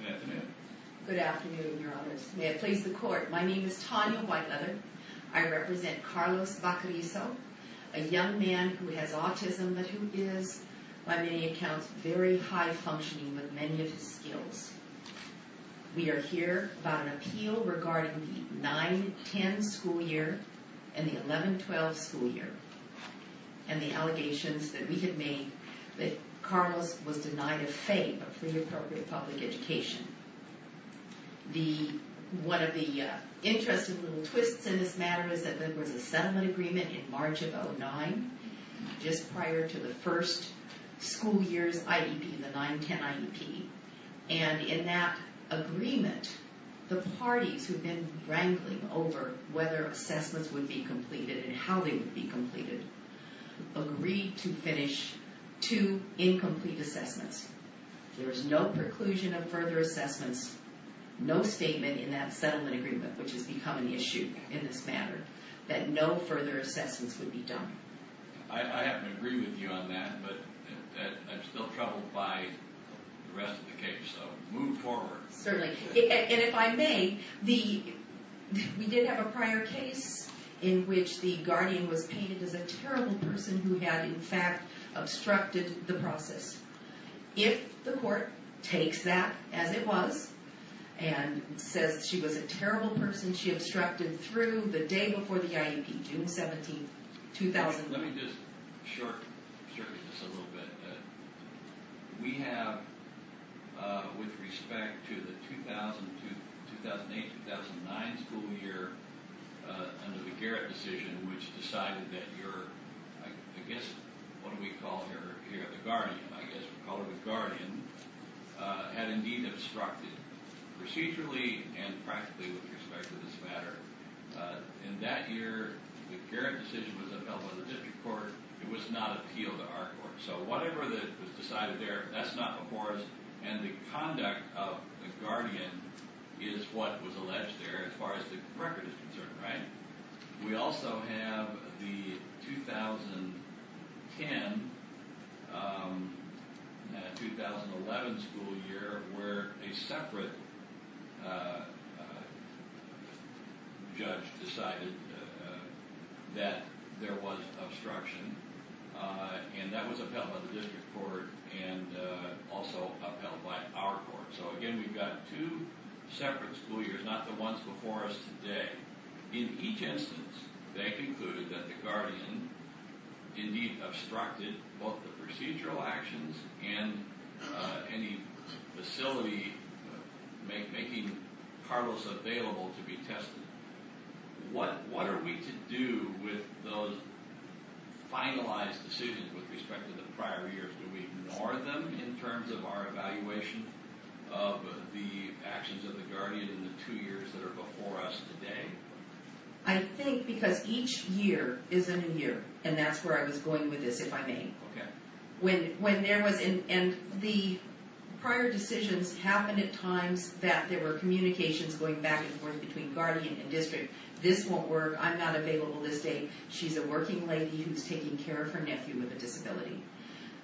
Good afternoon. Good afternoon, Your Honors. May it please the Court, my name is Tanya Whiteleather. I represent Carlos Baquerizo, a young man who has autism, but who is, by many accounts, very high-functioning with many of his skills. We are here about an appeal regarding the 9-10 school year and the 11-12 school year. And the allegations that we have made that Carlos was denied a FAPE, a pre-appropriate public education. One of the interesting little twists in this matter is that there was a settlement agreement in March of 2009, just prior to the first school year's IEP, the 9-10 IEP. And in that agreement, the parties who had been wrangling over whether assessments would be completed and how they would be completed, agreed to finish two incomplete assessments. There is no preclusion of further assessments, no statement in that settlement agreement, which has become an issue in this matter, that no further assessments would be done. I happen to agree with you on that, but I'm still troubled by the rest of the case, so move forward. Certainly. And if I may, we did have a prior case in which the guardian was painted as a terrible person who had, in fact, obstructed the process. If the court takes that as it was, and says she was a terrible person, she obstructed through the day before the IEP, June 17, 2009. Let me just short-circuit this a little bit. We have, with respect to the 2008-2009 school year, under the Garrett decision, which decided that your, I guess, what do we call her, the guardian, I guess we call her the guardian, had indeed obstructed procedurally and practically with respect to this matter. In that year, the Garrett decision was upheld by the district court. It was not appealed to our court. So whatever was decided there, that's not before us, and the conduct of the guardian is what was alleged there as far as the record is concerned, right? We also have the 2010-2011 school year where a separate judge decided that there was obstruction, and that was upheld by the district court and also upheld by our court. So again, we've got two separate school years, not the ones before us today. In each instance, they concluded that the guardian indeed obstructed both the procedural actions and any facility making Carlos available to be tested. What are we to do with those finalized decisions with respect to the prior years? Do we ignore them in terms of our evaluation of the actions of the guardian in the two years that are before us today? I think because each year is a new year, and that's where I was going with this, if I may. And the prior decisions happened at times that there were communications going back and forth between guardian and district. This won't work. I'm not available this day. She's a working lady who's taking care of her nephew with a disability.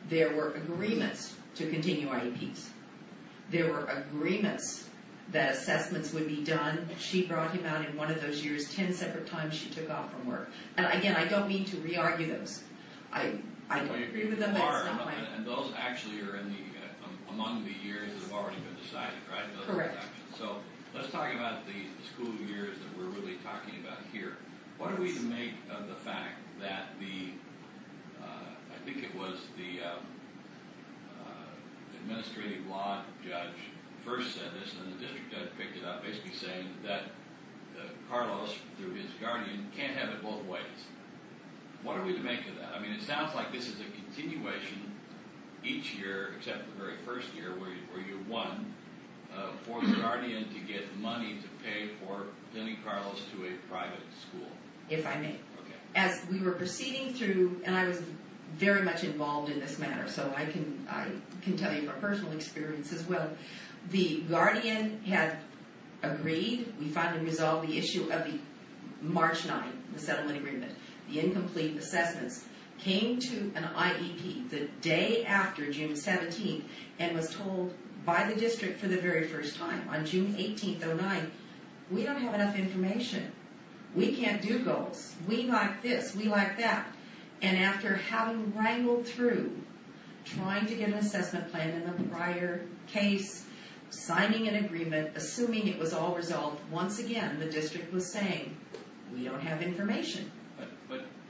There were agreements to continue IEPs. There were agreements that assessments would be done. She brought him out in one of those years ten separate times she took off from work. And again, I don't mean to re-argue those. I agree with them, but it's not my point. What are we to make of that? I mean, it sounds like this is a continuation each year, except the very first year where you won, for the guardian to get money to pay for sending Carlos to a private school. As we were proceeding through, and I was very much involved in this matter, so I can tell you from personal experience as well, the guardian had agreed, we finally resolved the issue of the March 9th settlement agreement. The incomplete assessments came to an IEP the day after June 17th and was told by the district for the very first time on June 18th, 09, we don't have enough information. We can't do goals. We like this. We like that. And after having wrangled through trying to get an assessment plan in the prior case, signing an agreement, assuming it was all resolved, once again the district was saying, we don't have information.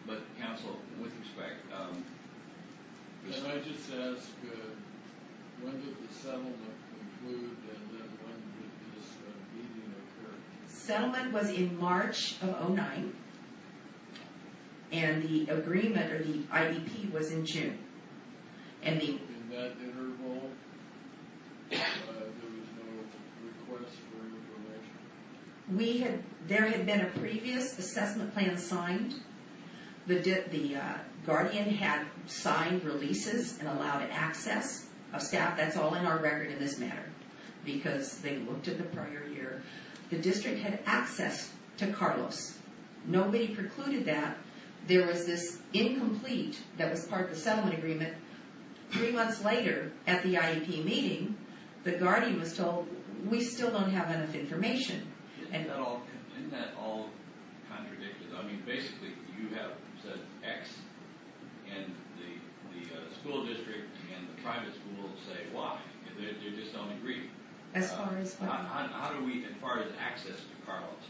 But counsel would expect... Can I just ask, when did the settlement conclude, and then when did this meeting occur? Settlement was in March of 09, and the agreement, or the IEP, was in June. In that interval, there was no request for information? There had been a previous assessment plan signed. The guardian had signed releases and allowed access of staff. That's all in our record in this matter, because they looked at the prior year. The district had access to Carlos. Nobody precluded that. There was this incomplete, that was part of the settlement agreement. Three months later, at the IEP meeting, the guardian was told, we still don't have enough information. Isn't that all contradicted? I mean, basically, you have said X, and the school district and the private school say Y. They just don't agree. As far as what? As far as access to Carlos.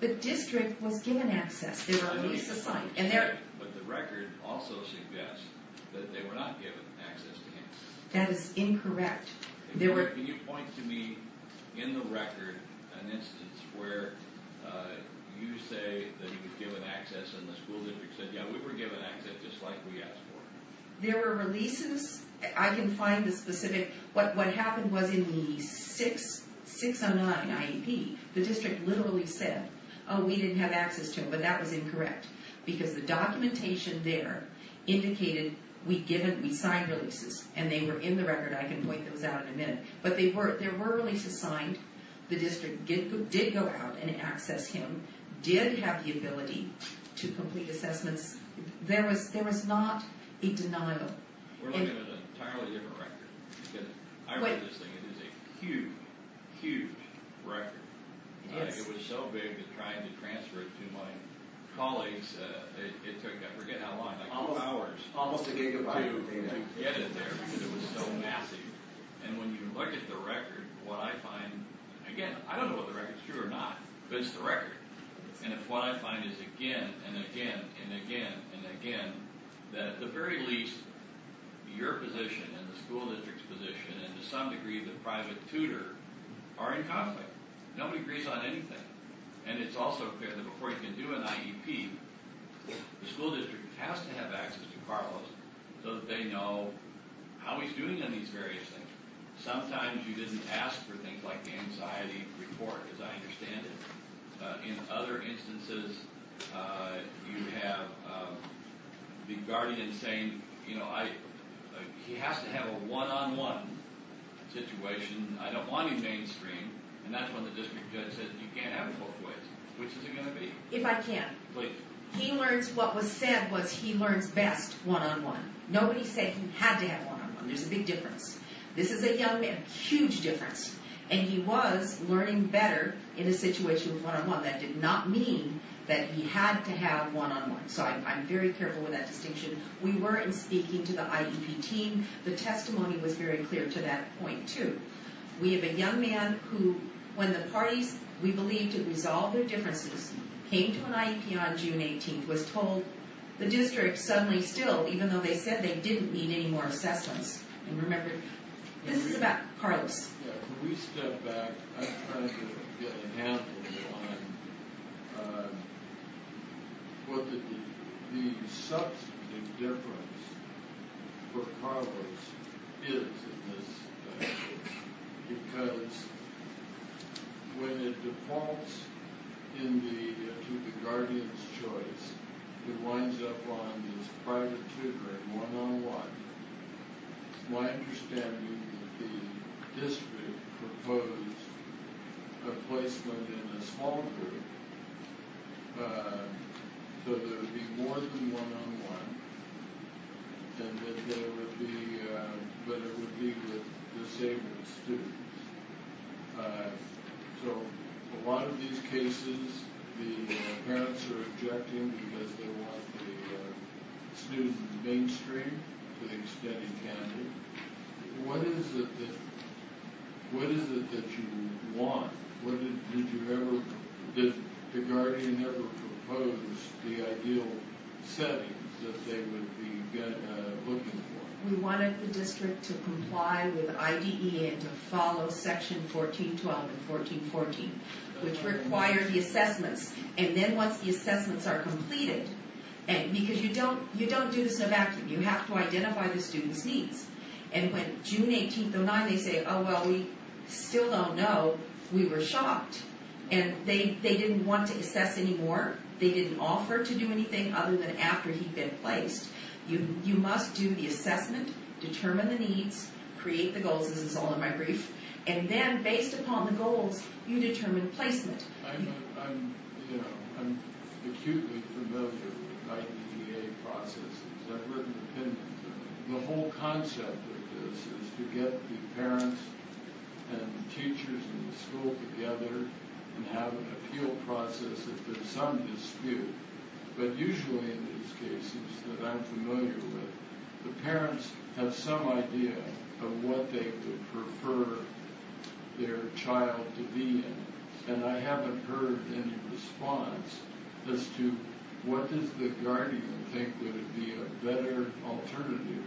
The district was given access. There were releases signed. But the record also suggests that they were not given access to him. That is incorrect. Can you point to me, in the record, an instance where you say that he was given access, and the school district said, yeah, we were given access, just like we asked for. There were releases. I can find the specific. What happened was, in the 609 IEP, the district literally said, oh, we didn't have access to him, but that was incorrect. Because the documentation there indicated, we signed releases, and they were in the record. I can point those out in a minute. But there were releases signed. The district did go out and access him, did have the ability to complete assessments. There was not a denial. We're looking at an entirely different record. I read this thing. It is a huge, huge record. It was so big that trying to transfer it to my colleagues, it took, I forget how long. Almost a gigabyte. To get it there, because it was so massive. And when you look at the record, what I find, again, I don't know if the record's true or not, but it's the record. And what I find is again, and again, and again, and again, that at the very least, your position, and the school district's position, and to some degree, the private tutor, are in conflict. Nobody agrees on anything. And it's also clear that before you can do an IEP, the school district has to have access to Carlos so that they know how he's doing on these various things. Sometimes you didn't ask for things like the anxiety report, as I understand it. In other instances, you have the guardian saying, you know, he has to have a one-on-one situation. I don't want him mainstream. And that's when the district judge says, you can't have it both ways. Which is it going to be? If I can. He learns, what was said was he learns best one-on-one. Nobody said he had to have one-on-one. There's a big difference. This is a young man. Huge difference. And he was learning better in a situation of one-on-one. That did not mean that he had to have one-on-one. So I'm very careful with that distinction. We weren't speaking to the IEP team. The testimony was very clear to that point, too. We have a young man who, when the parties we believed had resolved their differences, came to an IEP on June 18th, was told the district suddenly still, even though they said they didn't need any more assessments. And remember, this is about Carlos. When we step back, I'm trying to get a handle on what the substantive difference for Carlos is in this. Because when it defaults to the guardian's choice, it winds up on his prior to tutoring one-on-one. My understanding is that the district proposed a placement in a small group, so there would be more than one-on-one, but it would be with disabled students. So in a lot of these cases, the parents are objecting because they want the students mainstream, so they study candid. What is it that you want? Did the guardian ever propose the ideal settings that they would be looking for? We wanted the district to comply with IDE and to follow section 14.12 and 14.14, which require the assessments. And then once the assessments are completed, because you don't do this in a vacuum. You have to identify the student's needs. And when June 18th, 09, they say, oh, well, we still don't know, we were shocked. And they didn't want to assess anymore. They didn't offer to do anything other than after he'd been placed. You must do the assessment, determine the needs, create the goals, as it's all in my brief, and then based upon the goals, you determine placement. I'm acutely familiar with IDEA processes. I've written opinions on them. The whole concept of this is to get the parents and the teachers and the school together and have an appeal process if there's some dispute. But usually in these cases that I'm familiar with, the parents have some idea of what they would prefer their child to be in. And I haven't heard any response as to what does the guardian think would be a better alternative.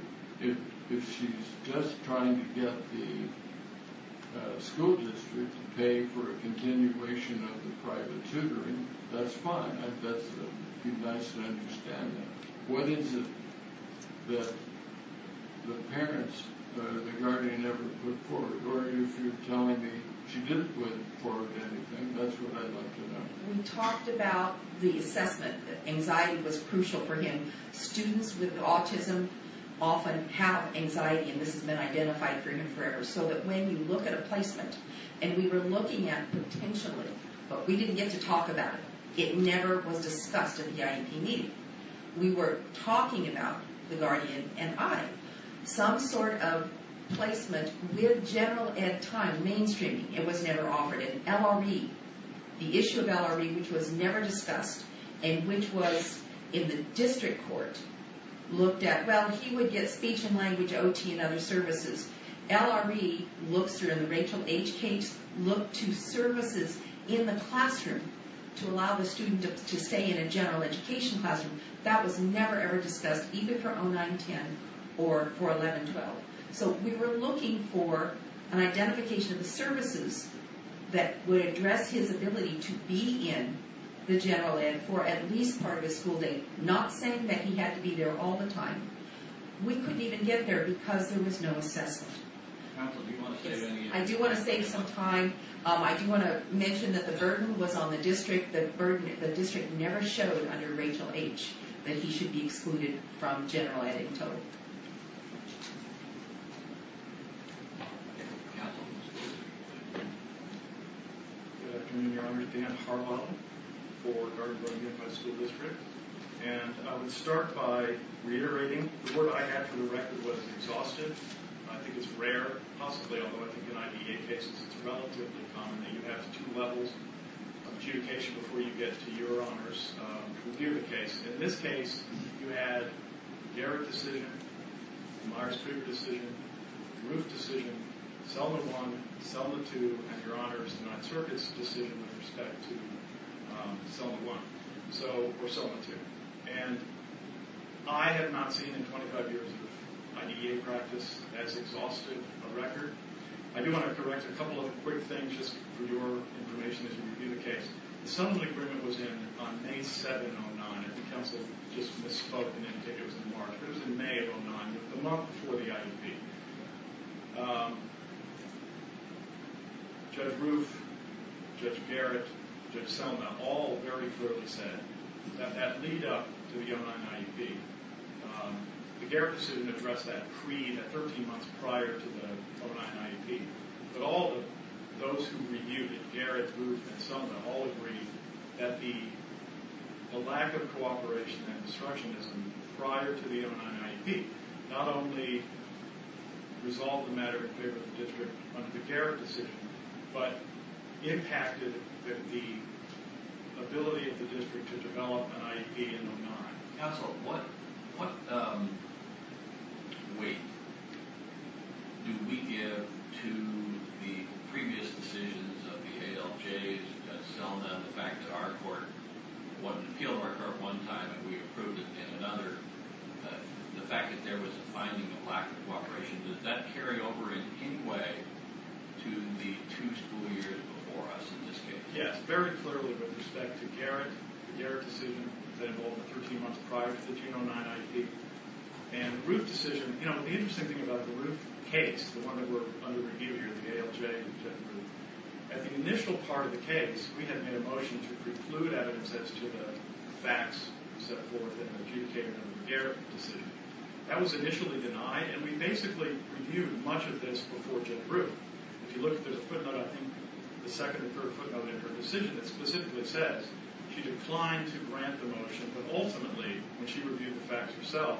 If she's just trying to get the school district to pay for a continuation of the private tutoring, that's fine. That's a nice understanding. What is it that the parents or the guardian never put forward? Or if you're telling me she didn't put forward anything, that's what I'd like to know. We talked about the assessment, that anxiety was crucial for him. Students with autism often have anxiety, and this has been identified for him forever. So that when you look at a placement, and we were looking at potentially, but we didn't get to talk about it. It never was discussed at the IEP meeting. We were talking about the guardian and I. Some sort of placement with general ed time, mainstreaming, it was never offered. And LRE, the issue of LRE, which was never discussed, and which was in the district court, looked at, well, he would get speech and language OT and other services. LRE looks, or in the Rachel H. Cates, looked to services in the classroom to allow the student to stay in a general education classroom. That was never, ever discussed, even for 09-10 or for 11-12. So we were looking for an identification of the services that would address his ability to be in the general ed for at least part of his school day. Not saying that he had to be there all the time. We couldn't even get there because there was no assessment. I do want to save some time. I do want to mention that the burden was on the district. The district never showed under Rachel H. that he should be excluded from general ed in total. Counsel? Good afternoon, Your Honor. Dan Harbaugh for Garden Grove Unified School District. And I would start by reiterating the work I had for the record was exhaustive. I think it's rare, possibly, although I think in IDA cases it's relatively common that you have two levels of adjudication before you get to your honor's review of the case. In this case, you had Garrett's decision, Myers-Kreuger's decision, Roof's decision, Selma I, Selma II, and Your Honor's, the Ninth Circuit's decision with respect to Selma I or Selma II. And I have not seen in 25 years of IDA practice as exhaustive a record. I do want to correct a couple of quick things just for your information as you review the case. The sum of the agreement was in on May 7, 2009, and the counsel just misspoke and didn't think it was in March. It was in May of 2009, the month before the IEP. Judge Roof, Judge Garrett, Judge Selma all very clearly said that that lead up to the 2009 IEP. The Garrett decision addressed that 13 months prior to the 2009 IEP. But all of those who reviewed it, Garrett, Roof, and Selma all agreed that the lack of cooperation and destructionism prior to the 2009 IEP not only resolved the matter in favor of the district under the Garrett decision, but impacted the ability of the district to develop an IEP in 2009. Counsel, what weight do we give to the previous decisions of the ALJs, Selma, the fact that our court wanted to appeal to our court one time and we approved it in another? The fact that there was a finding of lack of cooperation, does that carry over in any way to the two school years before us in this case? Yes, very clearly with respect to Garrett. The Garrett decision was involved 13 months prior to the 2009 IEP. And the Roof decision, you know, the interesting thing about the Roof case, the one that we're under review here, the ALJ and Judge Roof, at the initial part of the case, we had made a motion to preclude evidence as to the facts set forth in the adjudication of the Garrett decision. That was initially denied, and we basically reviewed much of this before Judge Roof. If you look at the footnote, I think the second or third footnote in her decision, it specifically says she declined to grant the motion, but ultimately, when she reviewed the facts herself,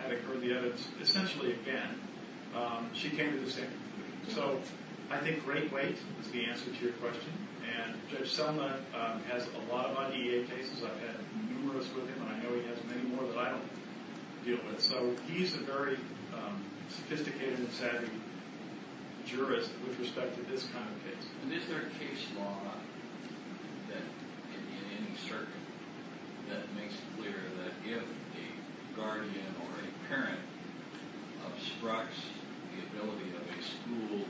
having heard the evidence essentially again, she came to the same conclusion. So I think great weight is the answer to your question, and Judge Selma has a lot of IEA cases. I've had numerous with him, and I know he has many more that I don't deal with. So he's a very sophisticated and savvy jurist with respect to this kind of case. And is there a case law in any circuit that makes it clear that if a guardian or a parent obstructs the ability of a school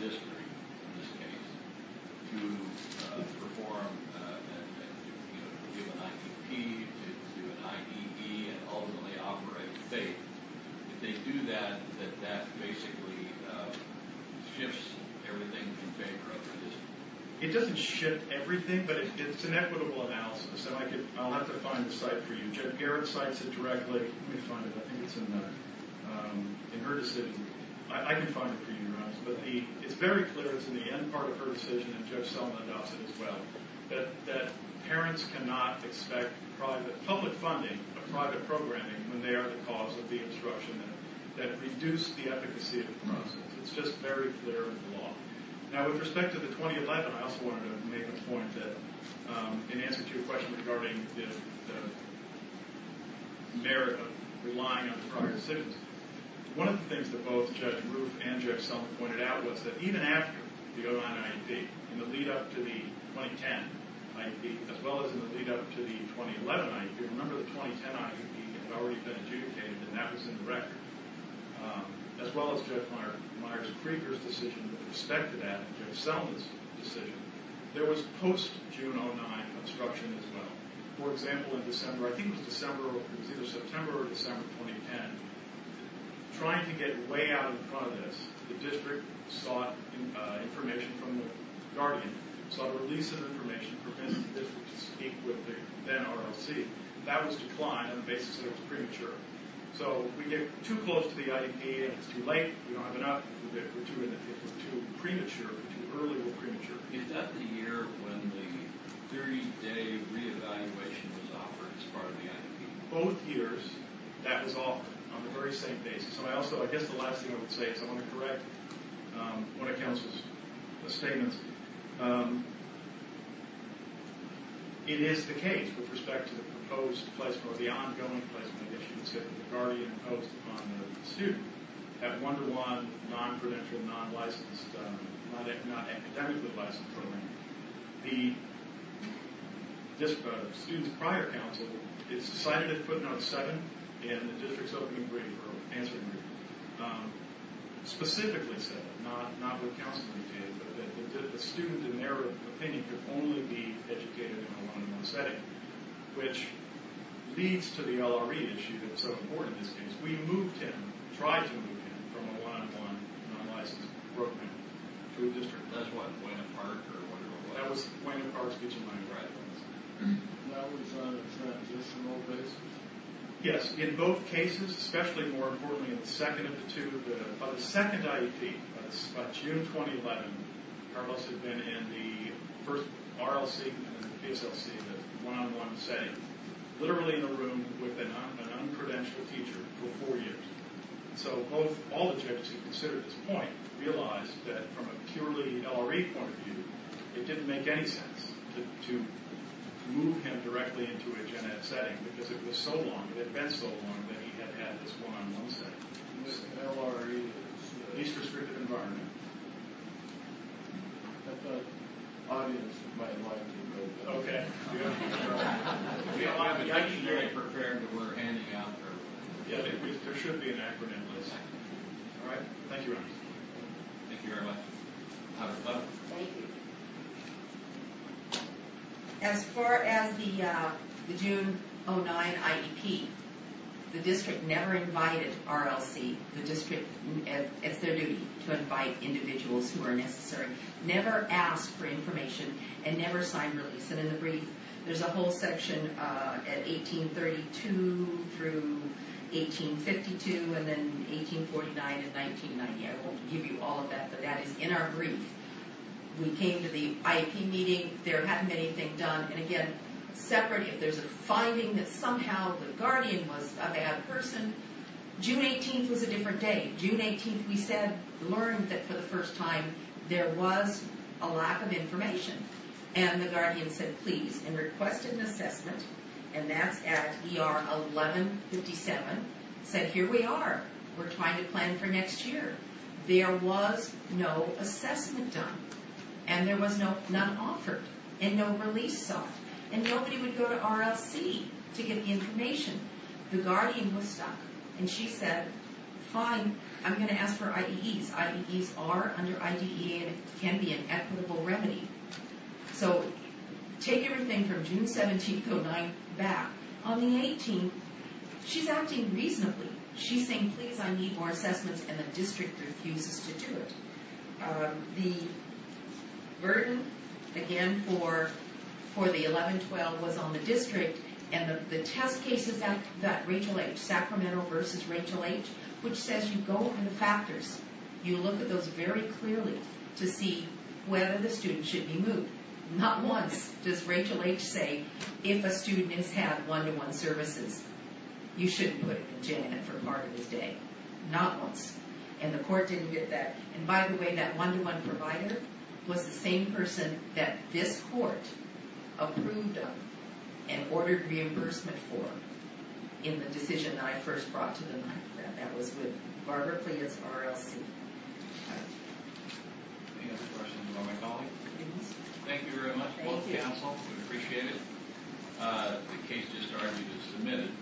district, in this case, to perform, you know, to do an IEP, to do an IED, and ultimately operate in faith, if they do that, that that basically shifts everything in favor of them? It doesn't shift everything, but it's an equitable analysis, and I'll have to find the site for you. Judge Garrett cites it directly. Let me find it. I think it's in her decision. I can find it for you, but it's very clear, it's in the end part of her decision, and Judge Selma does it as well, that parents cannot expect public funding of private programming when they are the cause of the obstruction, that reduce the efficacy of the process. It's just very clear in the law. Now, with respect to the 2011, I also wanted to make a point that in answer to your question regarding the merit of relying on the prior decisions, one of the things that both Judge Roof and Judge Selma pointed out was that even after the Odan IEP, in the lead-up to the 2010 IEP, as well as in the lead-up to the 2011 IEP, remember the 2010 IEP had already been adjudicated, and that was in the record. As well as Judge Meyer's Krieger's decision with respect to that, Judge Selma's decision, there was post-June 2009 obstruction as well. For example, in December, I think it was December, it was either September or December 2010, trying to get way out in front of this, the district sought information from the guardian, sought a release of information, prevented the district to speak with the NROC. That was declined on the basis that it was premature. So we get too close to the IEP, it's too late, we don't have enough, we're too premature, too early, we're premature. Is that the year when the 30-day reevaluation was offered as part of the IEP? In both years, that was offered on the very same basis. So I also, I guess the last thing I would say is I want to correct one of counsel's statements. It is the case, with respect to the proposed placement, or the ongoing placement, that students get from the guardian imposed upon the student, that one-to-one, non-prudential, non-licensed, not academically licensed program, the student's prior counsel is cited at footnote 7 in the district's opening briefer, answering briefer, specifically said, not what counsel indicated, but that the student, in their opinion, could only be educated in a one-to-one setting. Which leads to the LRE issue that's so important in this case. We moved him, tried to move him, from a one-to-one non-licensed program to a district. That's why Gwendolyn Park, or whatever it was. That was Gwendolyn Park's kitchen line of residence. And that was on a transitional basis? Yes, in both cases, especially more importantly in the second of the two. By the second IEP, by June 2011, Carlos had been in the first RLC and PSLC, the one-on-one setting, literally in a room with an unprudential teacher for four years. So all the judges who considered this point realized that, from a purely LRE point of view, it didn't make any sense to move him directly into a gen ed setting, because it was so long, it had been so long, that he had had this one-on-one setting. LRE is the least restrictive environment. I thought the audience might like to know that. Okay. I was actually very prepared when we were handing out the report. Yeah, there should be an acronym, Liz. All right. Thank you, Ron. Thank you very much. Have fun. Thank you. As far as the June 2009 IEP, the district never invited RLC. The district, it's their duty to invite individuals who are necessary. Never ask for information, and never sign release. And in the brief, there's a whole section at 1832 through 1852, and then 1849 and 1990. I won't give you all of that, but that is in our brief. We came to the IEP meeting. There hadn't been anything done. And again, separately, if there's a finding that somehow the guardian was a bad person, June 18th was a different day. June 18th, we said, learned that for the first time, there was a lack of information. And the guardian said, please, and requested an assessment. And that's at ER 1157. Said, here we are. We're trying to plan for next year. There was no assessment done. And there was none offered. And no release sought. And nobody would go to RLC to get information. The guardian was stuck. And she said, fine, I'm going to ask for IEEs. IEEs are, under IDEA, can be an equitable remedy. So take everything from June 17th through 9th back. On the 18th, she's acting reasonably. She's saying, please, I need more assessments. And the district refuses to do it. The burden, again, for the 1112 was on the district. And the test cases that Rachel H., Sacramento versus Rachel H., which says you go in the factors, you look at those very clearly to see whether the student should be moved. Not once does Rachel H. say, if a student has had one-to-one services, you shouldn't put him in JAN for part of his day. Not once. And the court didn't get that. And by the way, that one-to-one provider was the same person that this court approved of and ordered reimbursement for in the decision I first brought to the mic. That was with Barbara Clements, RLC. Any other questions about my colleague? Thank you very much, both counsel. We appreciate it. The case just argued is submitted.